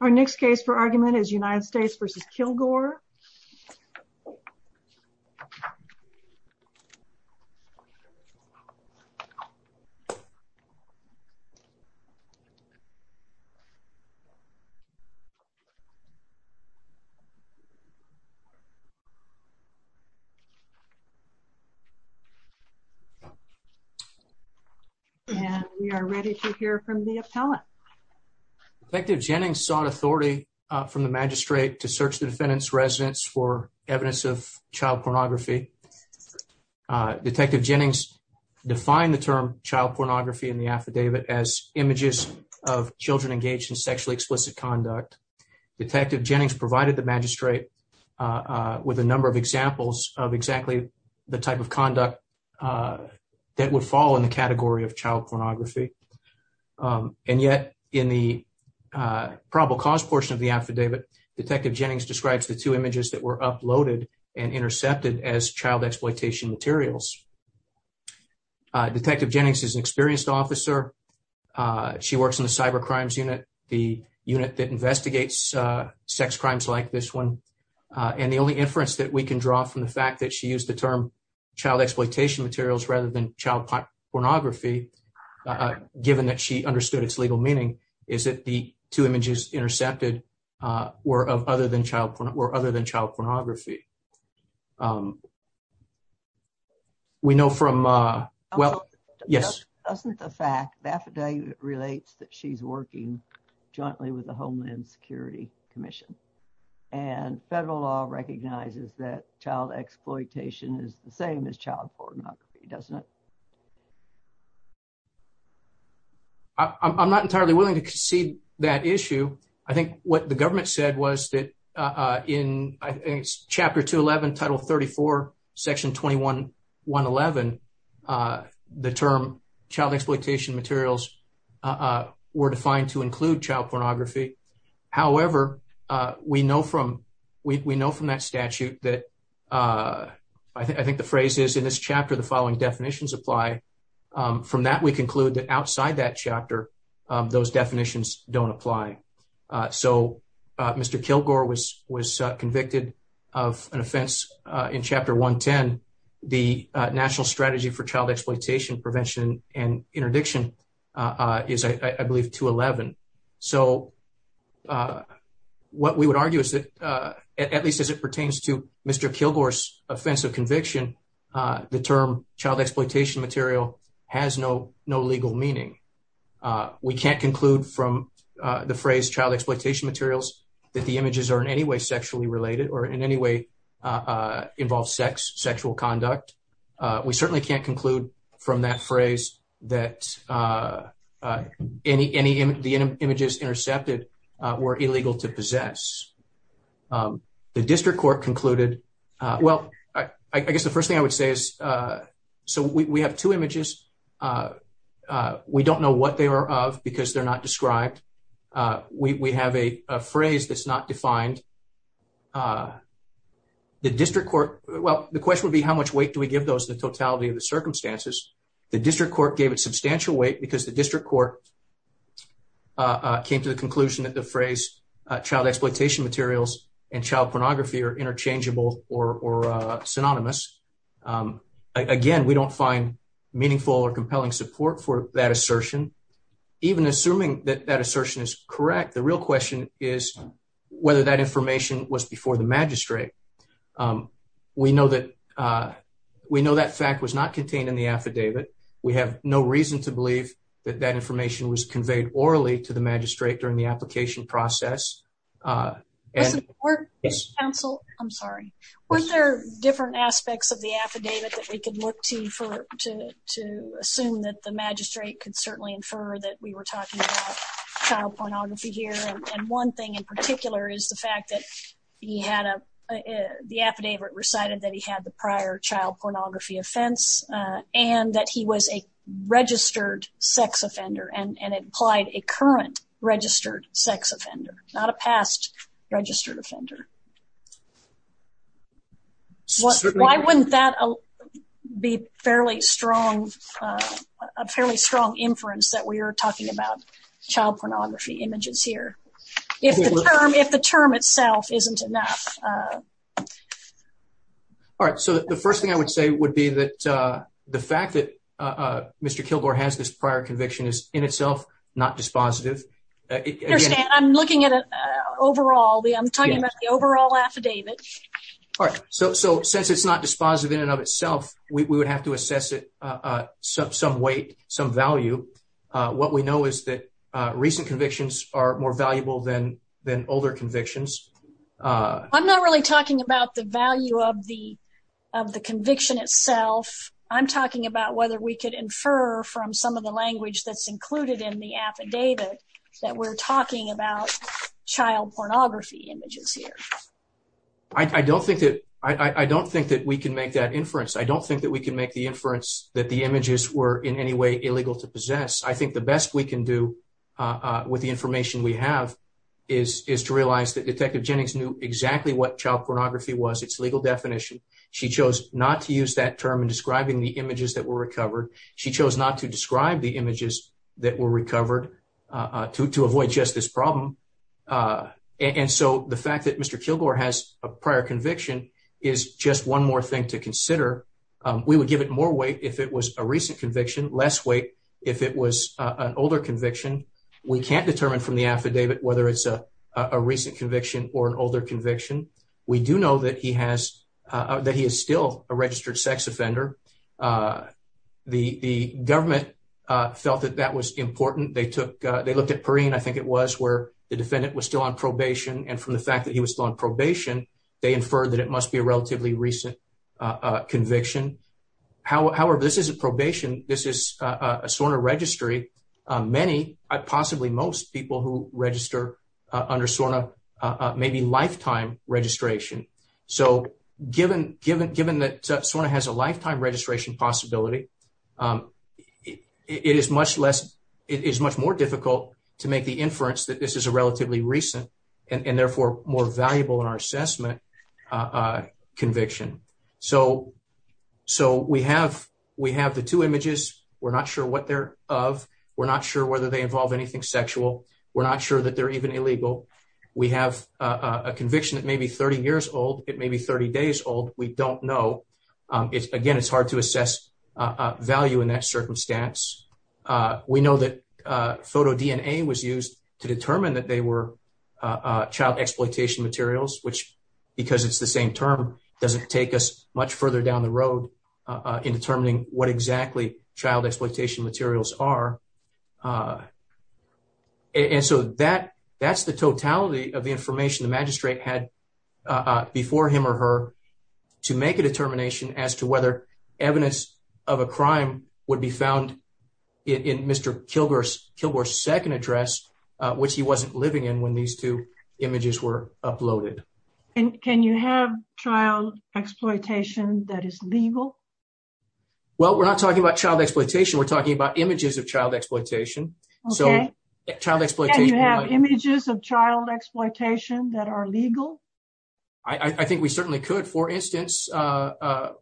Our next case for argument is United States v. Kilgore. And we are ready to hear from the appellant. Detective Jennings sought authority from the magistrate to search the defendant's residence for evidence of child pornography. Detective Jennings defined the term child pornography in the affidavit as images of children engaged in sexually explicit conduct. Detective Jennings provided the magistrate with a number of examples of exactly the type of conduct that would fall in the category of child pornography. And yet, in the probable cause portion of the affidavit, Detective Jennings describes the two images that were uploaded and intercepted as child exploitation materials. Detective Jennings is an experienced officer. She works in the Cyber Crimes Unit, the unit that investigates sex crimes like this one. And the only inference that we can draw from the fact that she used the term child exploitation materials rather than child pornography, given that she understood its legal meaning, is that the two images intercepted were other than child pornography. Doesn't the fact that the affidavit relates that she's working jointly with the Homeland Security Commission and federal law recognizes that child exploitation is the same as child pornography, doesn't it? I'm not entirely willing to concede that issue. I think what the government said was that in chapter 211, title 34, section 2111, the term child exploitation materials were defined to include child pornography. However, we know from that statute that, I think the phrase is, in this chapter, the following definitions apply. From that, we conclude that outside that chapter, those definitions don't apply. So, Mr. Kilgore was convicted of an offense in chapter 110. The National Strategy for Child Exploitation Prevention and Interdiction is, I believe, 211. So, what we would argue is that, at least as it pertains to Mr. Kilgore's offense of conviction, the term child exploitation material has no legal meaning. We can't conclude from the phrase child exploitation materials that the images are in any way sexually related or in any way involve sex, sexual conduct. We certainly can't conclude from that phrase that the images intercepted were illegal to possess. The district court concluded, well, I guess the first thing I would say is, so we have two images. We don't know what they are of because they're not described. We have a phrase that's not defined. The district court, well, the question would be how much weight do we give those in the totality of the circumstances? The district court gave it substantial weight because the district court came to the conclusion that the phrase child exploitation materials and child pornography are interchangeable or synonymous. Again, we don't find meaningful or compelling support for that assertion. Even assuming that that assertion is correct, the real question is whether that information was before the magistrate. We know that fact was not contained in the affidavit. We have no reason to believe that that information was conveyed orally to the magistrate during the application process. Wasn't there different aspects of the affidavit that we could look to assume that the magistrate could certainly infer that we were talking about child pornography here? One thing in particular is the fact that the affidavit recited that he had the prior child pornography offense and that he was a registered sex offender and it applied a current registered sex offender. Why wouldn't that be a fairly strong inference that we are talking about child pornography images here if the term itself isn't enough? The first thing I would say would be that the fact that Mr. Kilgore has this prior conviction is in itself not dispositive. I'm looking at the overall affidavit. Since it's not dispositive in and of itself, we would have to assess it some weight, some value. What we know is that recent convictions are more valuable than older convictions. I'm not really talking about the value of the conviction itself. I'm talking about whether we could infer from some of the language that's included in the affidavit that we're talking about child pornography images here. I don't think that we can make that inference. I don't think that we can make the inference that the images were in any way illegal to possess. I think the best we can do with the information we have is to realize that Detective Jennings knew exactly what child pornography was, its legal definition. She chose not to use that term in describing the images that were recovered. She chose not to describe the images that were recovered to avoid just this problem. The fact that Mr. Kilgore has a prior conviction is just one more thing to consider. We would give it more weight if it was a recent conviction, less weight if it was an older conviction. We can't determine from the affidavit whether it's a recent conviction or an older conviction. We do know that he is still a registered sex offender. The government felt that that was important. They looked at Perrine, I think it was, where the defendant was still on probation. From the fact that he was still on probation, they inferred that it must be a relatively recent conviction. However, this isn't probation. This is a SORNA registry. Possibly most people who register under SORNA may be lifetime registration. Given that SORNA has a lifetime registration possibility, it is much more difficult to make the inference that this is a relatively recent and therefore more valuable in our assessment conviction. We have the two images. We're not sure what they're of. We're not sure whether they involve anything sexual. We're not sure that they're even illegal. We have a conviction that may be 30 years old. It may be 30 days old. We don't know. Again, it's hard to assess value in that circumstance. We know that photodNA was used to determine that they were child exploitation materials, which, because it's the same term, doesn't take us much further down the road in determining what exactly child exploitation materials are. That's the totality of the information the magistrate had before him or her to make a determination as to whether evidence of a crime would be found in Mr. Kilgore's second address, which he wasn't living in when these two images were uploaded. Can you have child exploitation that is legal? Well, we're not talking about child exploitation. We're talking about images of child exploitation. Can you have images of child exploitation that are legal? I think we certainly could. For instance, child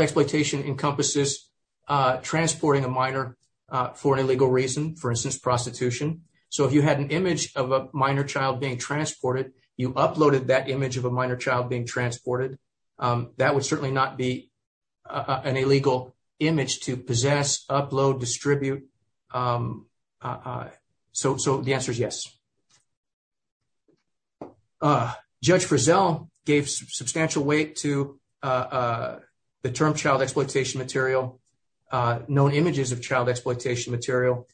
exploitation encompasses transporting a minor for an illegal reason, for instance, prostitution. So if you had an image of a minor child being transported, you uploaded that image of a minor child being transported. That would certainly not be an illegal image to possess, upload, distribute. So the answer is yes. Judge Frizzell gave substantial weight to the term child exploitation material, known images of child exploitation material,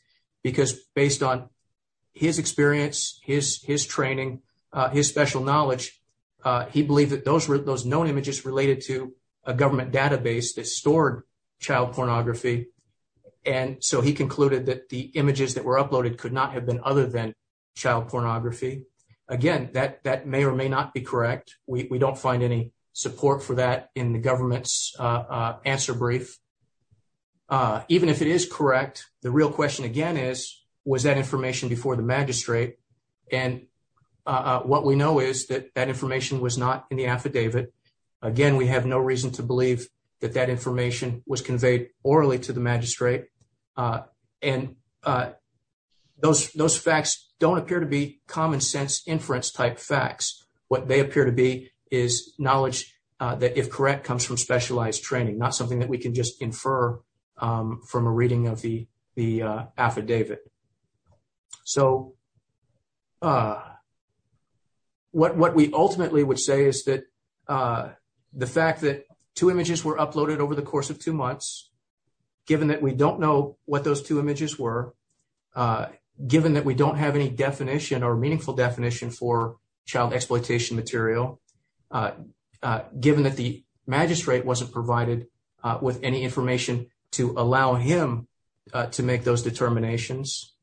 because based on his experience, his training, his special knowledge, he believed that those known images related to a government database that stored child pornography. And so he concluded that the images that were uploaded could not have been other than child pornography. Again, that may or may not be correct. We don't find any support for that in the government's answer brief. Even if it is correct, the real question again is, was that information before the magistrate? And what we know is that that information was not in the affidavit. Again, we have no reason to believe that that information was conveyed orally to the magistrate. And those facts don't appear to be common sense inference type facts. What they appear to be is knowledge that, if correct, comes from specialized training, not something that we can just infer from a reading of the affidavit. So what we ultimately would say is that the fact that two images were uploaded over the course of two months, given that we don't know what those two images were, given that we don't have any definition or meaningful definition for child exploitation material, given that the magistrate wasn't provided with any information to allow him to make those determinations,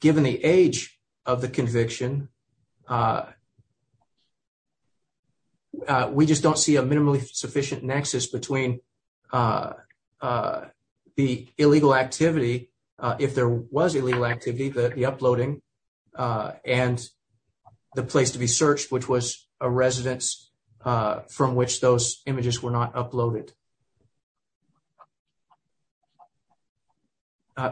given the age of the conviction, we just don't see a minimally sufficient nexus between the illegal activity, if there was illegal activity, the uploading, and the place to be searched, which was a residence from which those images were not uploaded.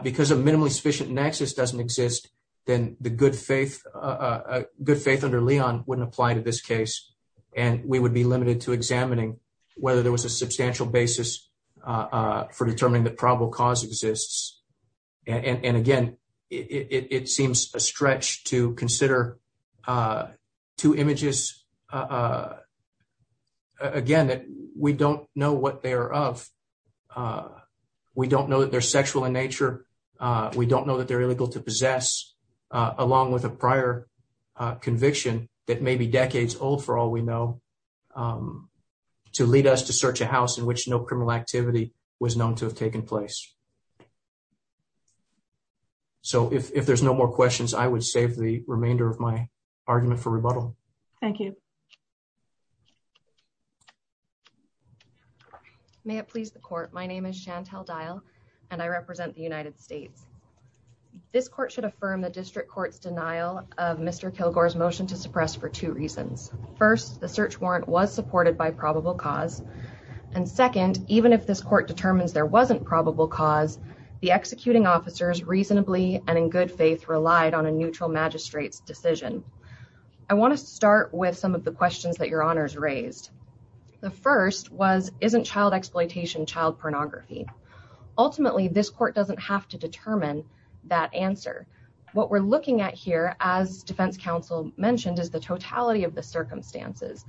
Because a minimally sufficient nexus doesn't exist, then the good faith under Leon wouldn't apply to this case, and we would be limited to examining whether there was a substantial basis for determining that probable cause exists. And again, it seems a stretch to consider two images, again, that we don't know what they are of, we don't know that they're sexual in nature, we don't know that they're illegal to possess, along with a prior conviction that may be decades old, for all we know, to lead us to search a house in which no criminal activity was known to have taken place. So if there's no more questions, I would save the remainder of my argument for rebuttal. Thank you. May it please the court. My name is Chantelle Dial, and I represent the United States. This court should affirm the district court's denial of Mr. Kilgore's motion to suppress for two reasons. First, the search warrant was supported by probable cause. And second, even if this court determines there wasn't probable cause, the executing officers reasonably and in good faith relied on a neutral magistrate's decision. I want to start with some of the questions that your honors raised. The first was, isn't child exploitation child pornography. Ultimately, this court doesn't have to determine that answer. What we're looking at here, as defense counsel mentioned, is the totality of the circumstances.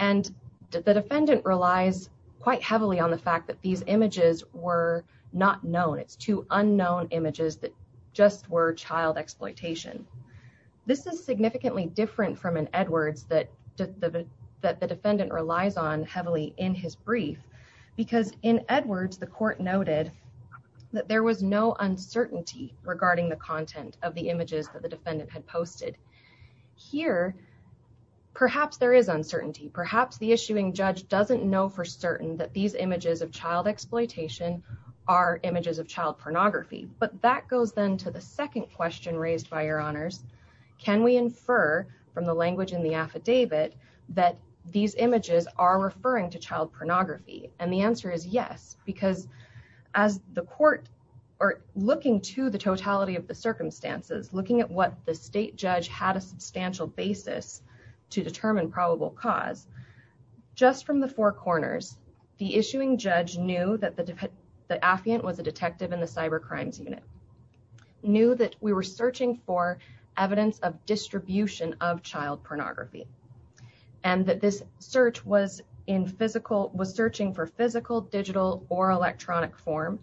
And the defendant relies quite heavily on the fact that these images were not known. It's two unknown images that just were child exploitation. This is significantly different from an Edwards that the defendant relies on heavily in his brief. Because in Edwards, the court noted that there was no uncertainty regarding the content of the images that the defendant had posted. Here, perhaps there is uncertainty. Perhaps the issuing judge doesn't know for certain that these images of child exploitation are images of child pornography. But that goes then to the second question raised by your honors. Can we infer from the language in the affidavit that these images are referring to child pornography? And the answer is yes. Because as the court are looking to the totality of the circumstances, looking at what the state judge had a substantial basis to determine probable cause. Just from the four corners, the issuing judge knew that the affiant was a detective in the cyber crimes unit. Knew that we were searching for evidence of distribution of child pornography. And that this search was in physical, was searching for physical, digital, or electronic form.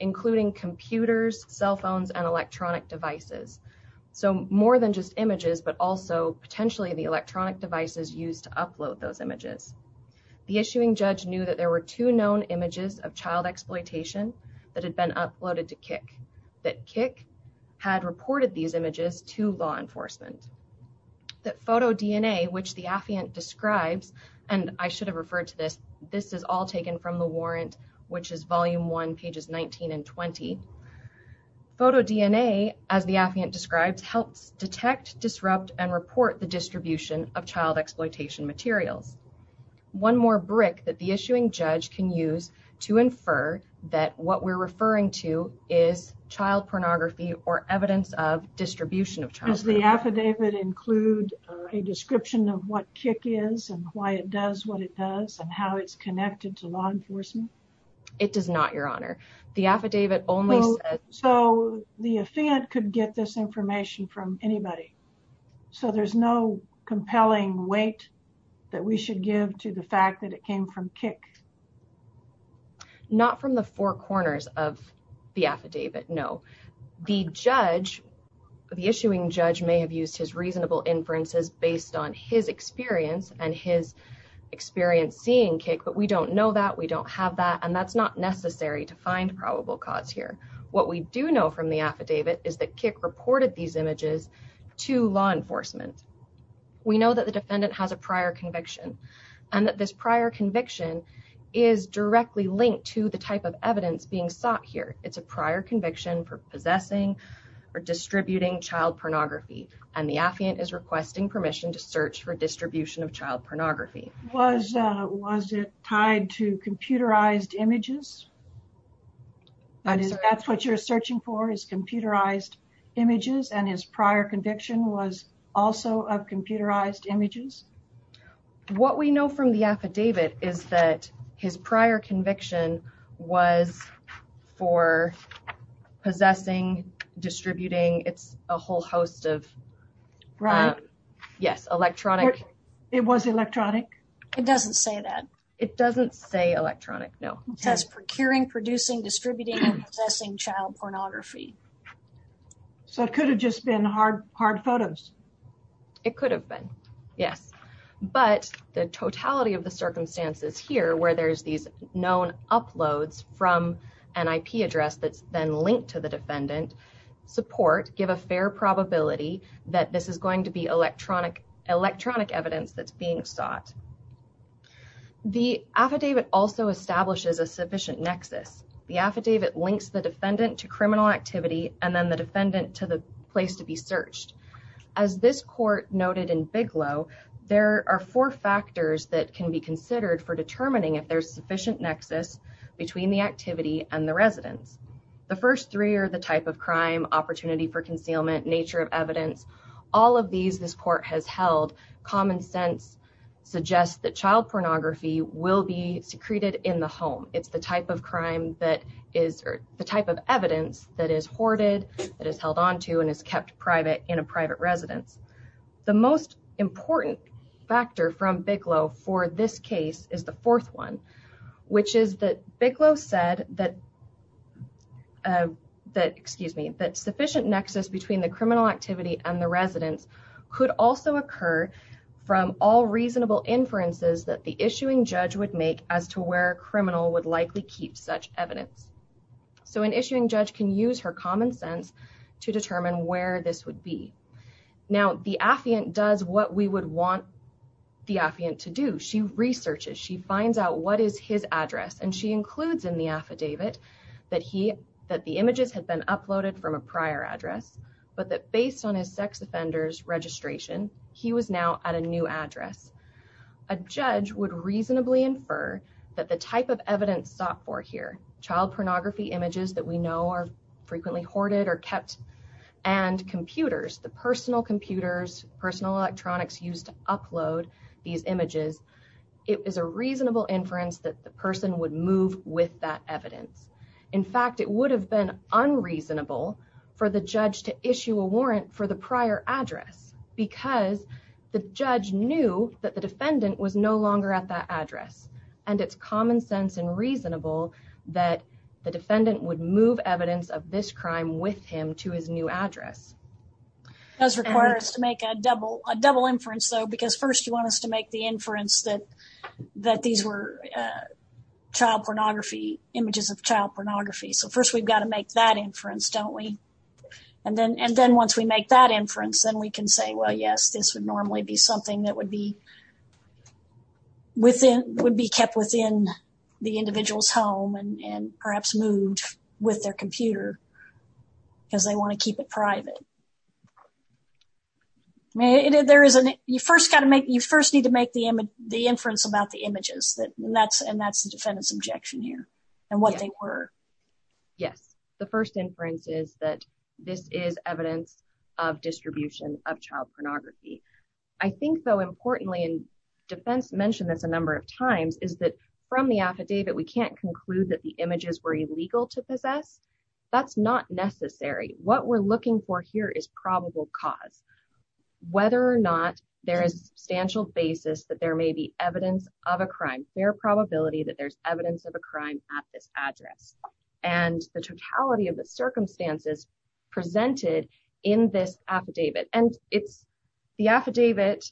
Including computers, cell phones, and electronic devices. So more than just images, but also potentially the electronic devices used to upload those images. The issuing judge knew that there were two known images of child exploitation that had been uploaded to KIC. That KIC had reported these images to law enforcement. That photo DNA, which the affiant describes, and I should have referred to this, this is all taken from the warrant, which is volume one, pages 19 and 20. Photo DNA, as the affiant describes, helps detect, disrupt, and report the distribution of child exploitation materials. One more brick that the issuing judge can use to infer that what we're referring to is child pornography or evidence of distribution of child pornography. Does the affidavit include a description of what KIC is and why it does what it does and how it's connected to law enforcement? It does not, your honor. The affidavit only says... So the affiant could get this information from anybody? So there's no compelling weight that we should give to the fact that it came from KIC? Not from the four corners of the affidavit, no. The judge, the issuing judge, may have used his reasonable inferences based on his experience and his experience seeing KIC. But we don't know that, we don't have that, and that's not necessary to find probable cause here. What we do know from the affidavit is that KIC reported these images to law enforcement. We know that the defendant has a prior conviction and that this prior conviction is directly linked to the type of evidence being sought here. It's a prior conviction for possessing or distributing child pornography. And the affiant is requesting permission to search for distribution of child pornography. Was it tied to computerized images? That's what you're searching for, is computerized images, and his prior conviction was also of computerized images? What we know from the affidavit is that his prior conviction was for possessing, distributing, it's a whole host of... Right. Yes, electronic... It doesn't say that. It doesn't say electronic, no. It says procuring, producing, distributing, and possessing child pornography. So it could have just been hard photos? It could have been, yes. But the totality of the circumstances here, where there's these known uploads from an IP address that's then linked to the defendant, support, give a fair probability that this is going to be electronic evidence that's being sought. The affidavit also establishes a sufficient nexus. The affidavit links the defendant to criminal activity and then the defendant to the place to be searched. As this court noted in Bigelow, there are four factors that can be considered for determining if there's sufficient nexus between the activity and the residence. The first three are the type of crime, opportunity for concealment, nature of evidence, all of these this court has held. Common sense suggests that child pornography will be secreted in the home. It's the type of crime that is or the type of evidence that is hoarded, that is held on to and is kept private in a private residence. The most important factor from Bigelow for this case is the fourth one, which is that Bigelow said that sufficient nexus between the criminal activity and the residence could also occur from all reasonable inferences that the issuing judge would make as to where a criminal would likely keep such evidence. So an issuing judge can use her common sense to determine where this would be. Now the affiant does what we would want the affiant to do. She researches, she finds out what is his address and she includes in the affidavit that the images had been uploaded from a prior address, but that based on his sex offenders registration, he was now at a new address. A judge would reasonably infer that the type of evidence sought for here, child pornography images that we know are frequently hoarded or kept, and computers, the personal computers, personal electronics used to upload these images, it is a reasonable inference that the person would move with that evidence. In fact, it would have been unreasonable for the judge to issue a warrant for the prior address because the judge knew that the defendant was no longer at that address. And it's common sense and reasonable that the defendant would move evidence of this crime with him to his new address. It does require us to make a double inference though, because first you want us to make the inference that these were child pornography, images of child pornography. So first we've got to make that inference, don't we? And then once we make that inference, then we can say, well, yes, this would normally be something that would be kept within the individual's home and perhaps moved with their computer because they want to keep it private. You first need to make the inference about the images, and that's the defendant's objection here, and what they were. Yes, the first inference is that this is evidence of distribution of child pornography. I think though, importantly, and defense mentioned this a number of times, is that from the affidavit, we can't conclude that the images were illegal to possess. That's not necessary. What we're looking for here is probable cause. Whether or not there is substantial basis that there may be evidence of a crime, there's a probability that there's evidence of a crime at this address. And the totality of the circumstances presented in this affidavit, and the affidavit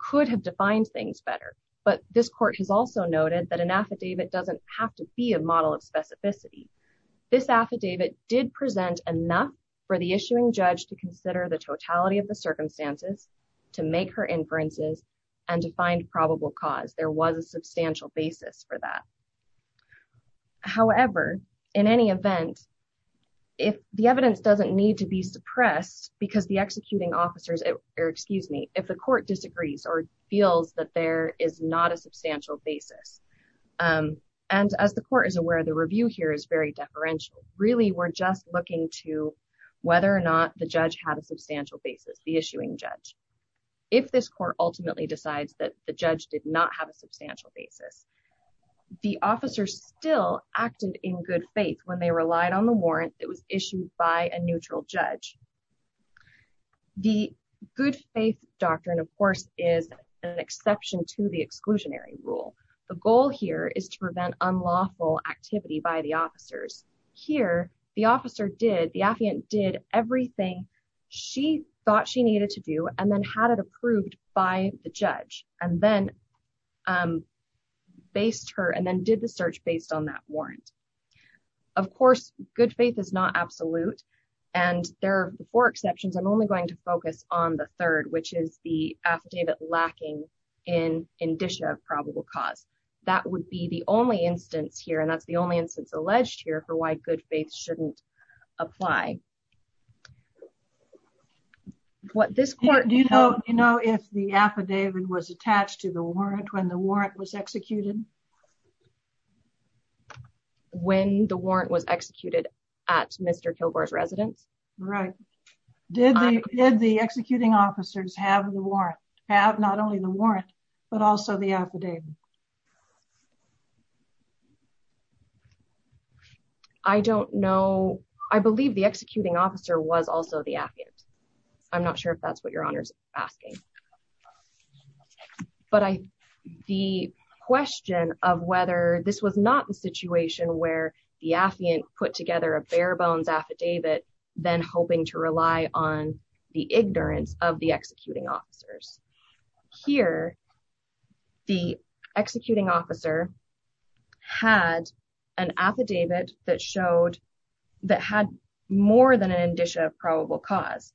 could have defined things better, but this court has also noted that an affidavit doesn't have to be a model of specificity. This affidavit did present enough for the issuing judge to consider the totality of the circumstances, to make her inferences, and to find probable cause. There was a substantial basis for that. However, in any event, if the evidence doesn't need to be suppressed, because the executing officers, or excuse me, if the court disagrees, or feels that there is not a substantial basis. And as the court is aware, the review here is very deferential. Really, we're just looking to whether or not the judge had a substantial basis, the issuing judge. If this court ultimately decides that the judge did not have a substantial basis, the officer still acted in good faith when they relied on the warrant that was issued by a neutral judge. The good faith doctrine, of course, is an exception to the exclusionary rule. The goal here is to prevent unlawful activity by the officers. Here, the officer did, the affiant did everything she thought she needed to do, and then had it approved by the judge. And then based her, and then did the search based on that warrant. Of course, good faith is not absolute. And there are four exceptions. I'm only going to focus on the third, which is the affidavit lacking in indicia of probable cause. That would be the only instance here, and that's the only instance alleged here, for why good faith shouldn't apply. Do you know if the affidavit was attached to the warrant when the warrant was executed? When the warrant was executed at Mr. Kilgore's residence? Right. Did the executing officers have the warrant? Have not only the warrant, but also the affidavit? I don't know. I believe the executing officer was also the affiant. I'm not sure if that's what your honor's asking. But I, the question of whether this was not the situation where the affiant put together a bare bones affidavit, then hoping to rely on the ignorance of the executing officers. Here, the executing officer had an affidavit that showed, that had more than an indicia of probable cause.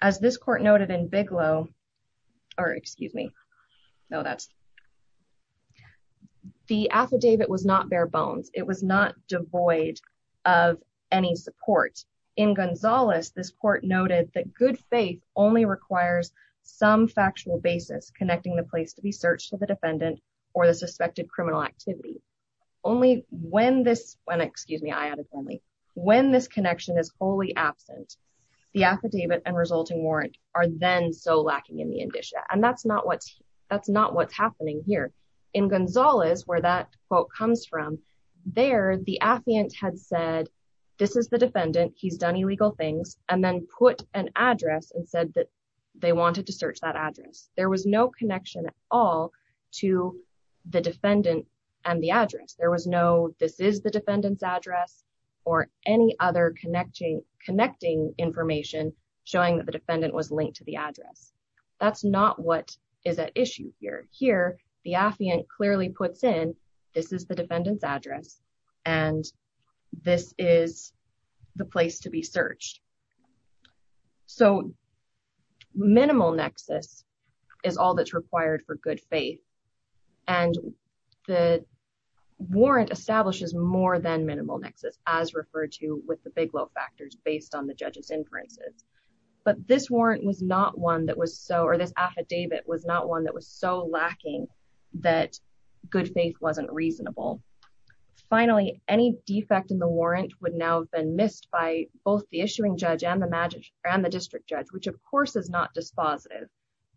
As this court noted in Bigelow, or excuse me. No, that's the affidavit was not bare bones. It was not devoid of any support. In Gonzales, this court noted that good faith only requires some factual basis connecting the place to be searched to the defendant or the suspected criminal activity. Only when this, when, excuse me, I added friendly. When this connection is wholly absent, the affidavit and resulting warrant are then so lacking in the indicia. And that's not what's, that's not what's happening here. In Gonzales, where that quote comes from, there, the affiant had said, this is the defendant. He's done illegal things. And then put an address and said that they wanted to search that address. There was no connection at all to the defendant and the address. There was no, this is the defendant's address or any other connecting information showing that the defendant was linked to the address. That's not what is at issue here. Here, the affiant clearly puts in, this is the defendant's address and this is the place to be searched. So minimal nexus is all that's required for good faith. And the warrant establishes more than minimal nexus as referred to with the big low factors based on the judge's inferences. But this warrant was not one that was so, or this affidavit was not one that was so lacking that good faith wasn't reasonable. Finally, any defect in the warrant would now have been missed by both the issuing judge and the district judge, which of course is not dispositive,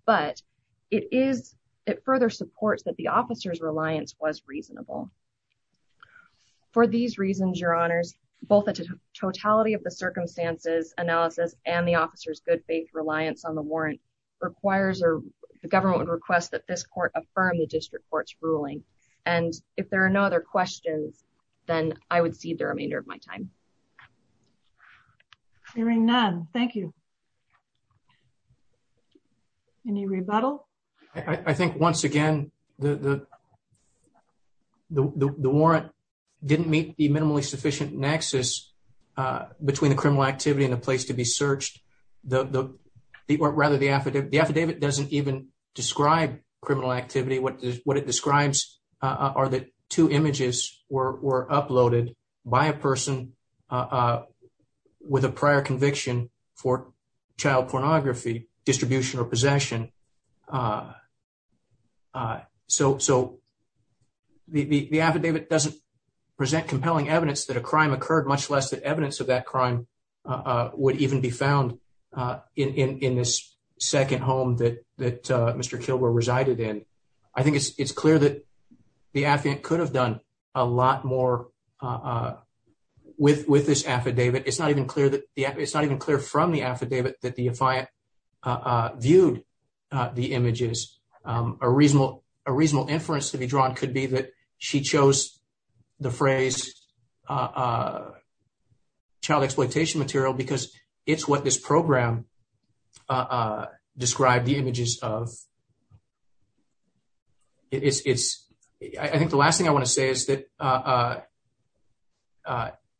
but it further supports that the officer's reliance was reasonable. For these reasons, your honors, both the totality of the circumstances analysis and the officer's good faith reliance on the warrant requires or the government would request that this court affirm the district court's ruling. And if there are no other questions, then I would cede the remainder of my time. Hearing none. Thank you. Any rebuttal? I think once again, the warrant didn't meet the minimally sufficient nexus between the criminal activity and the place to be searched. The, or rather the affidavit, the affidavit doesn't even describe criminal activity. What it describes are the two images were uploaded by a person with a prior conviction for child pornography, distribution or possession. So the affidavit doesn't present compelling evidence that a crime occurred, much less the evidence of that crime would even be found in this second home that Mr. Kilgore resided in. I think it's clear that the affidavit could have done a lot more with this affidavit. It's not even clear from the affidavit that the defiant viewed the images. A reasonable inference to be drawn could be that she chose the phrase child exploitation material because it's what this program described the images of. It's, I think the last thing I want to say is that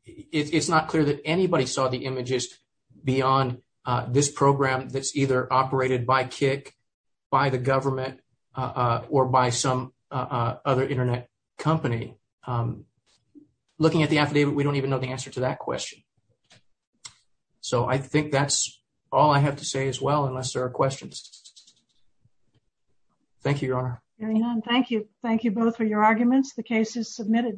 it's not clear that anybody saw the images beyond this program that's either operated by Kik, by the government, or by some other internet company. Looking at the affidavit, we don't even know the answer to that question. So I think that's all I have to say as well, unless there are questions. Thank you, Your Honor. Thank you. Thank you both for your arguments. The case is submitted.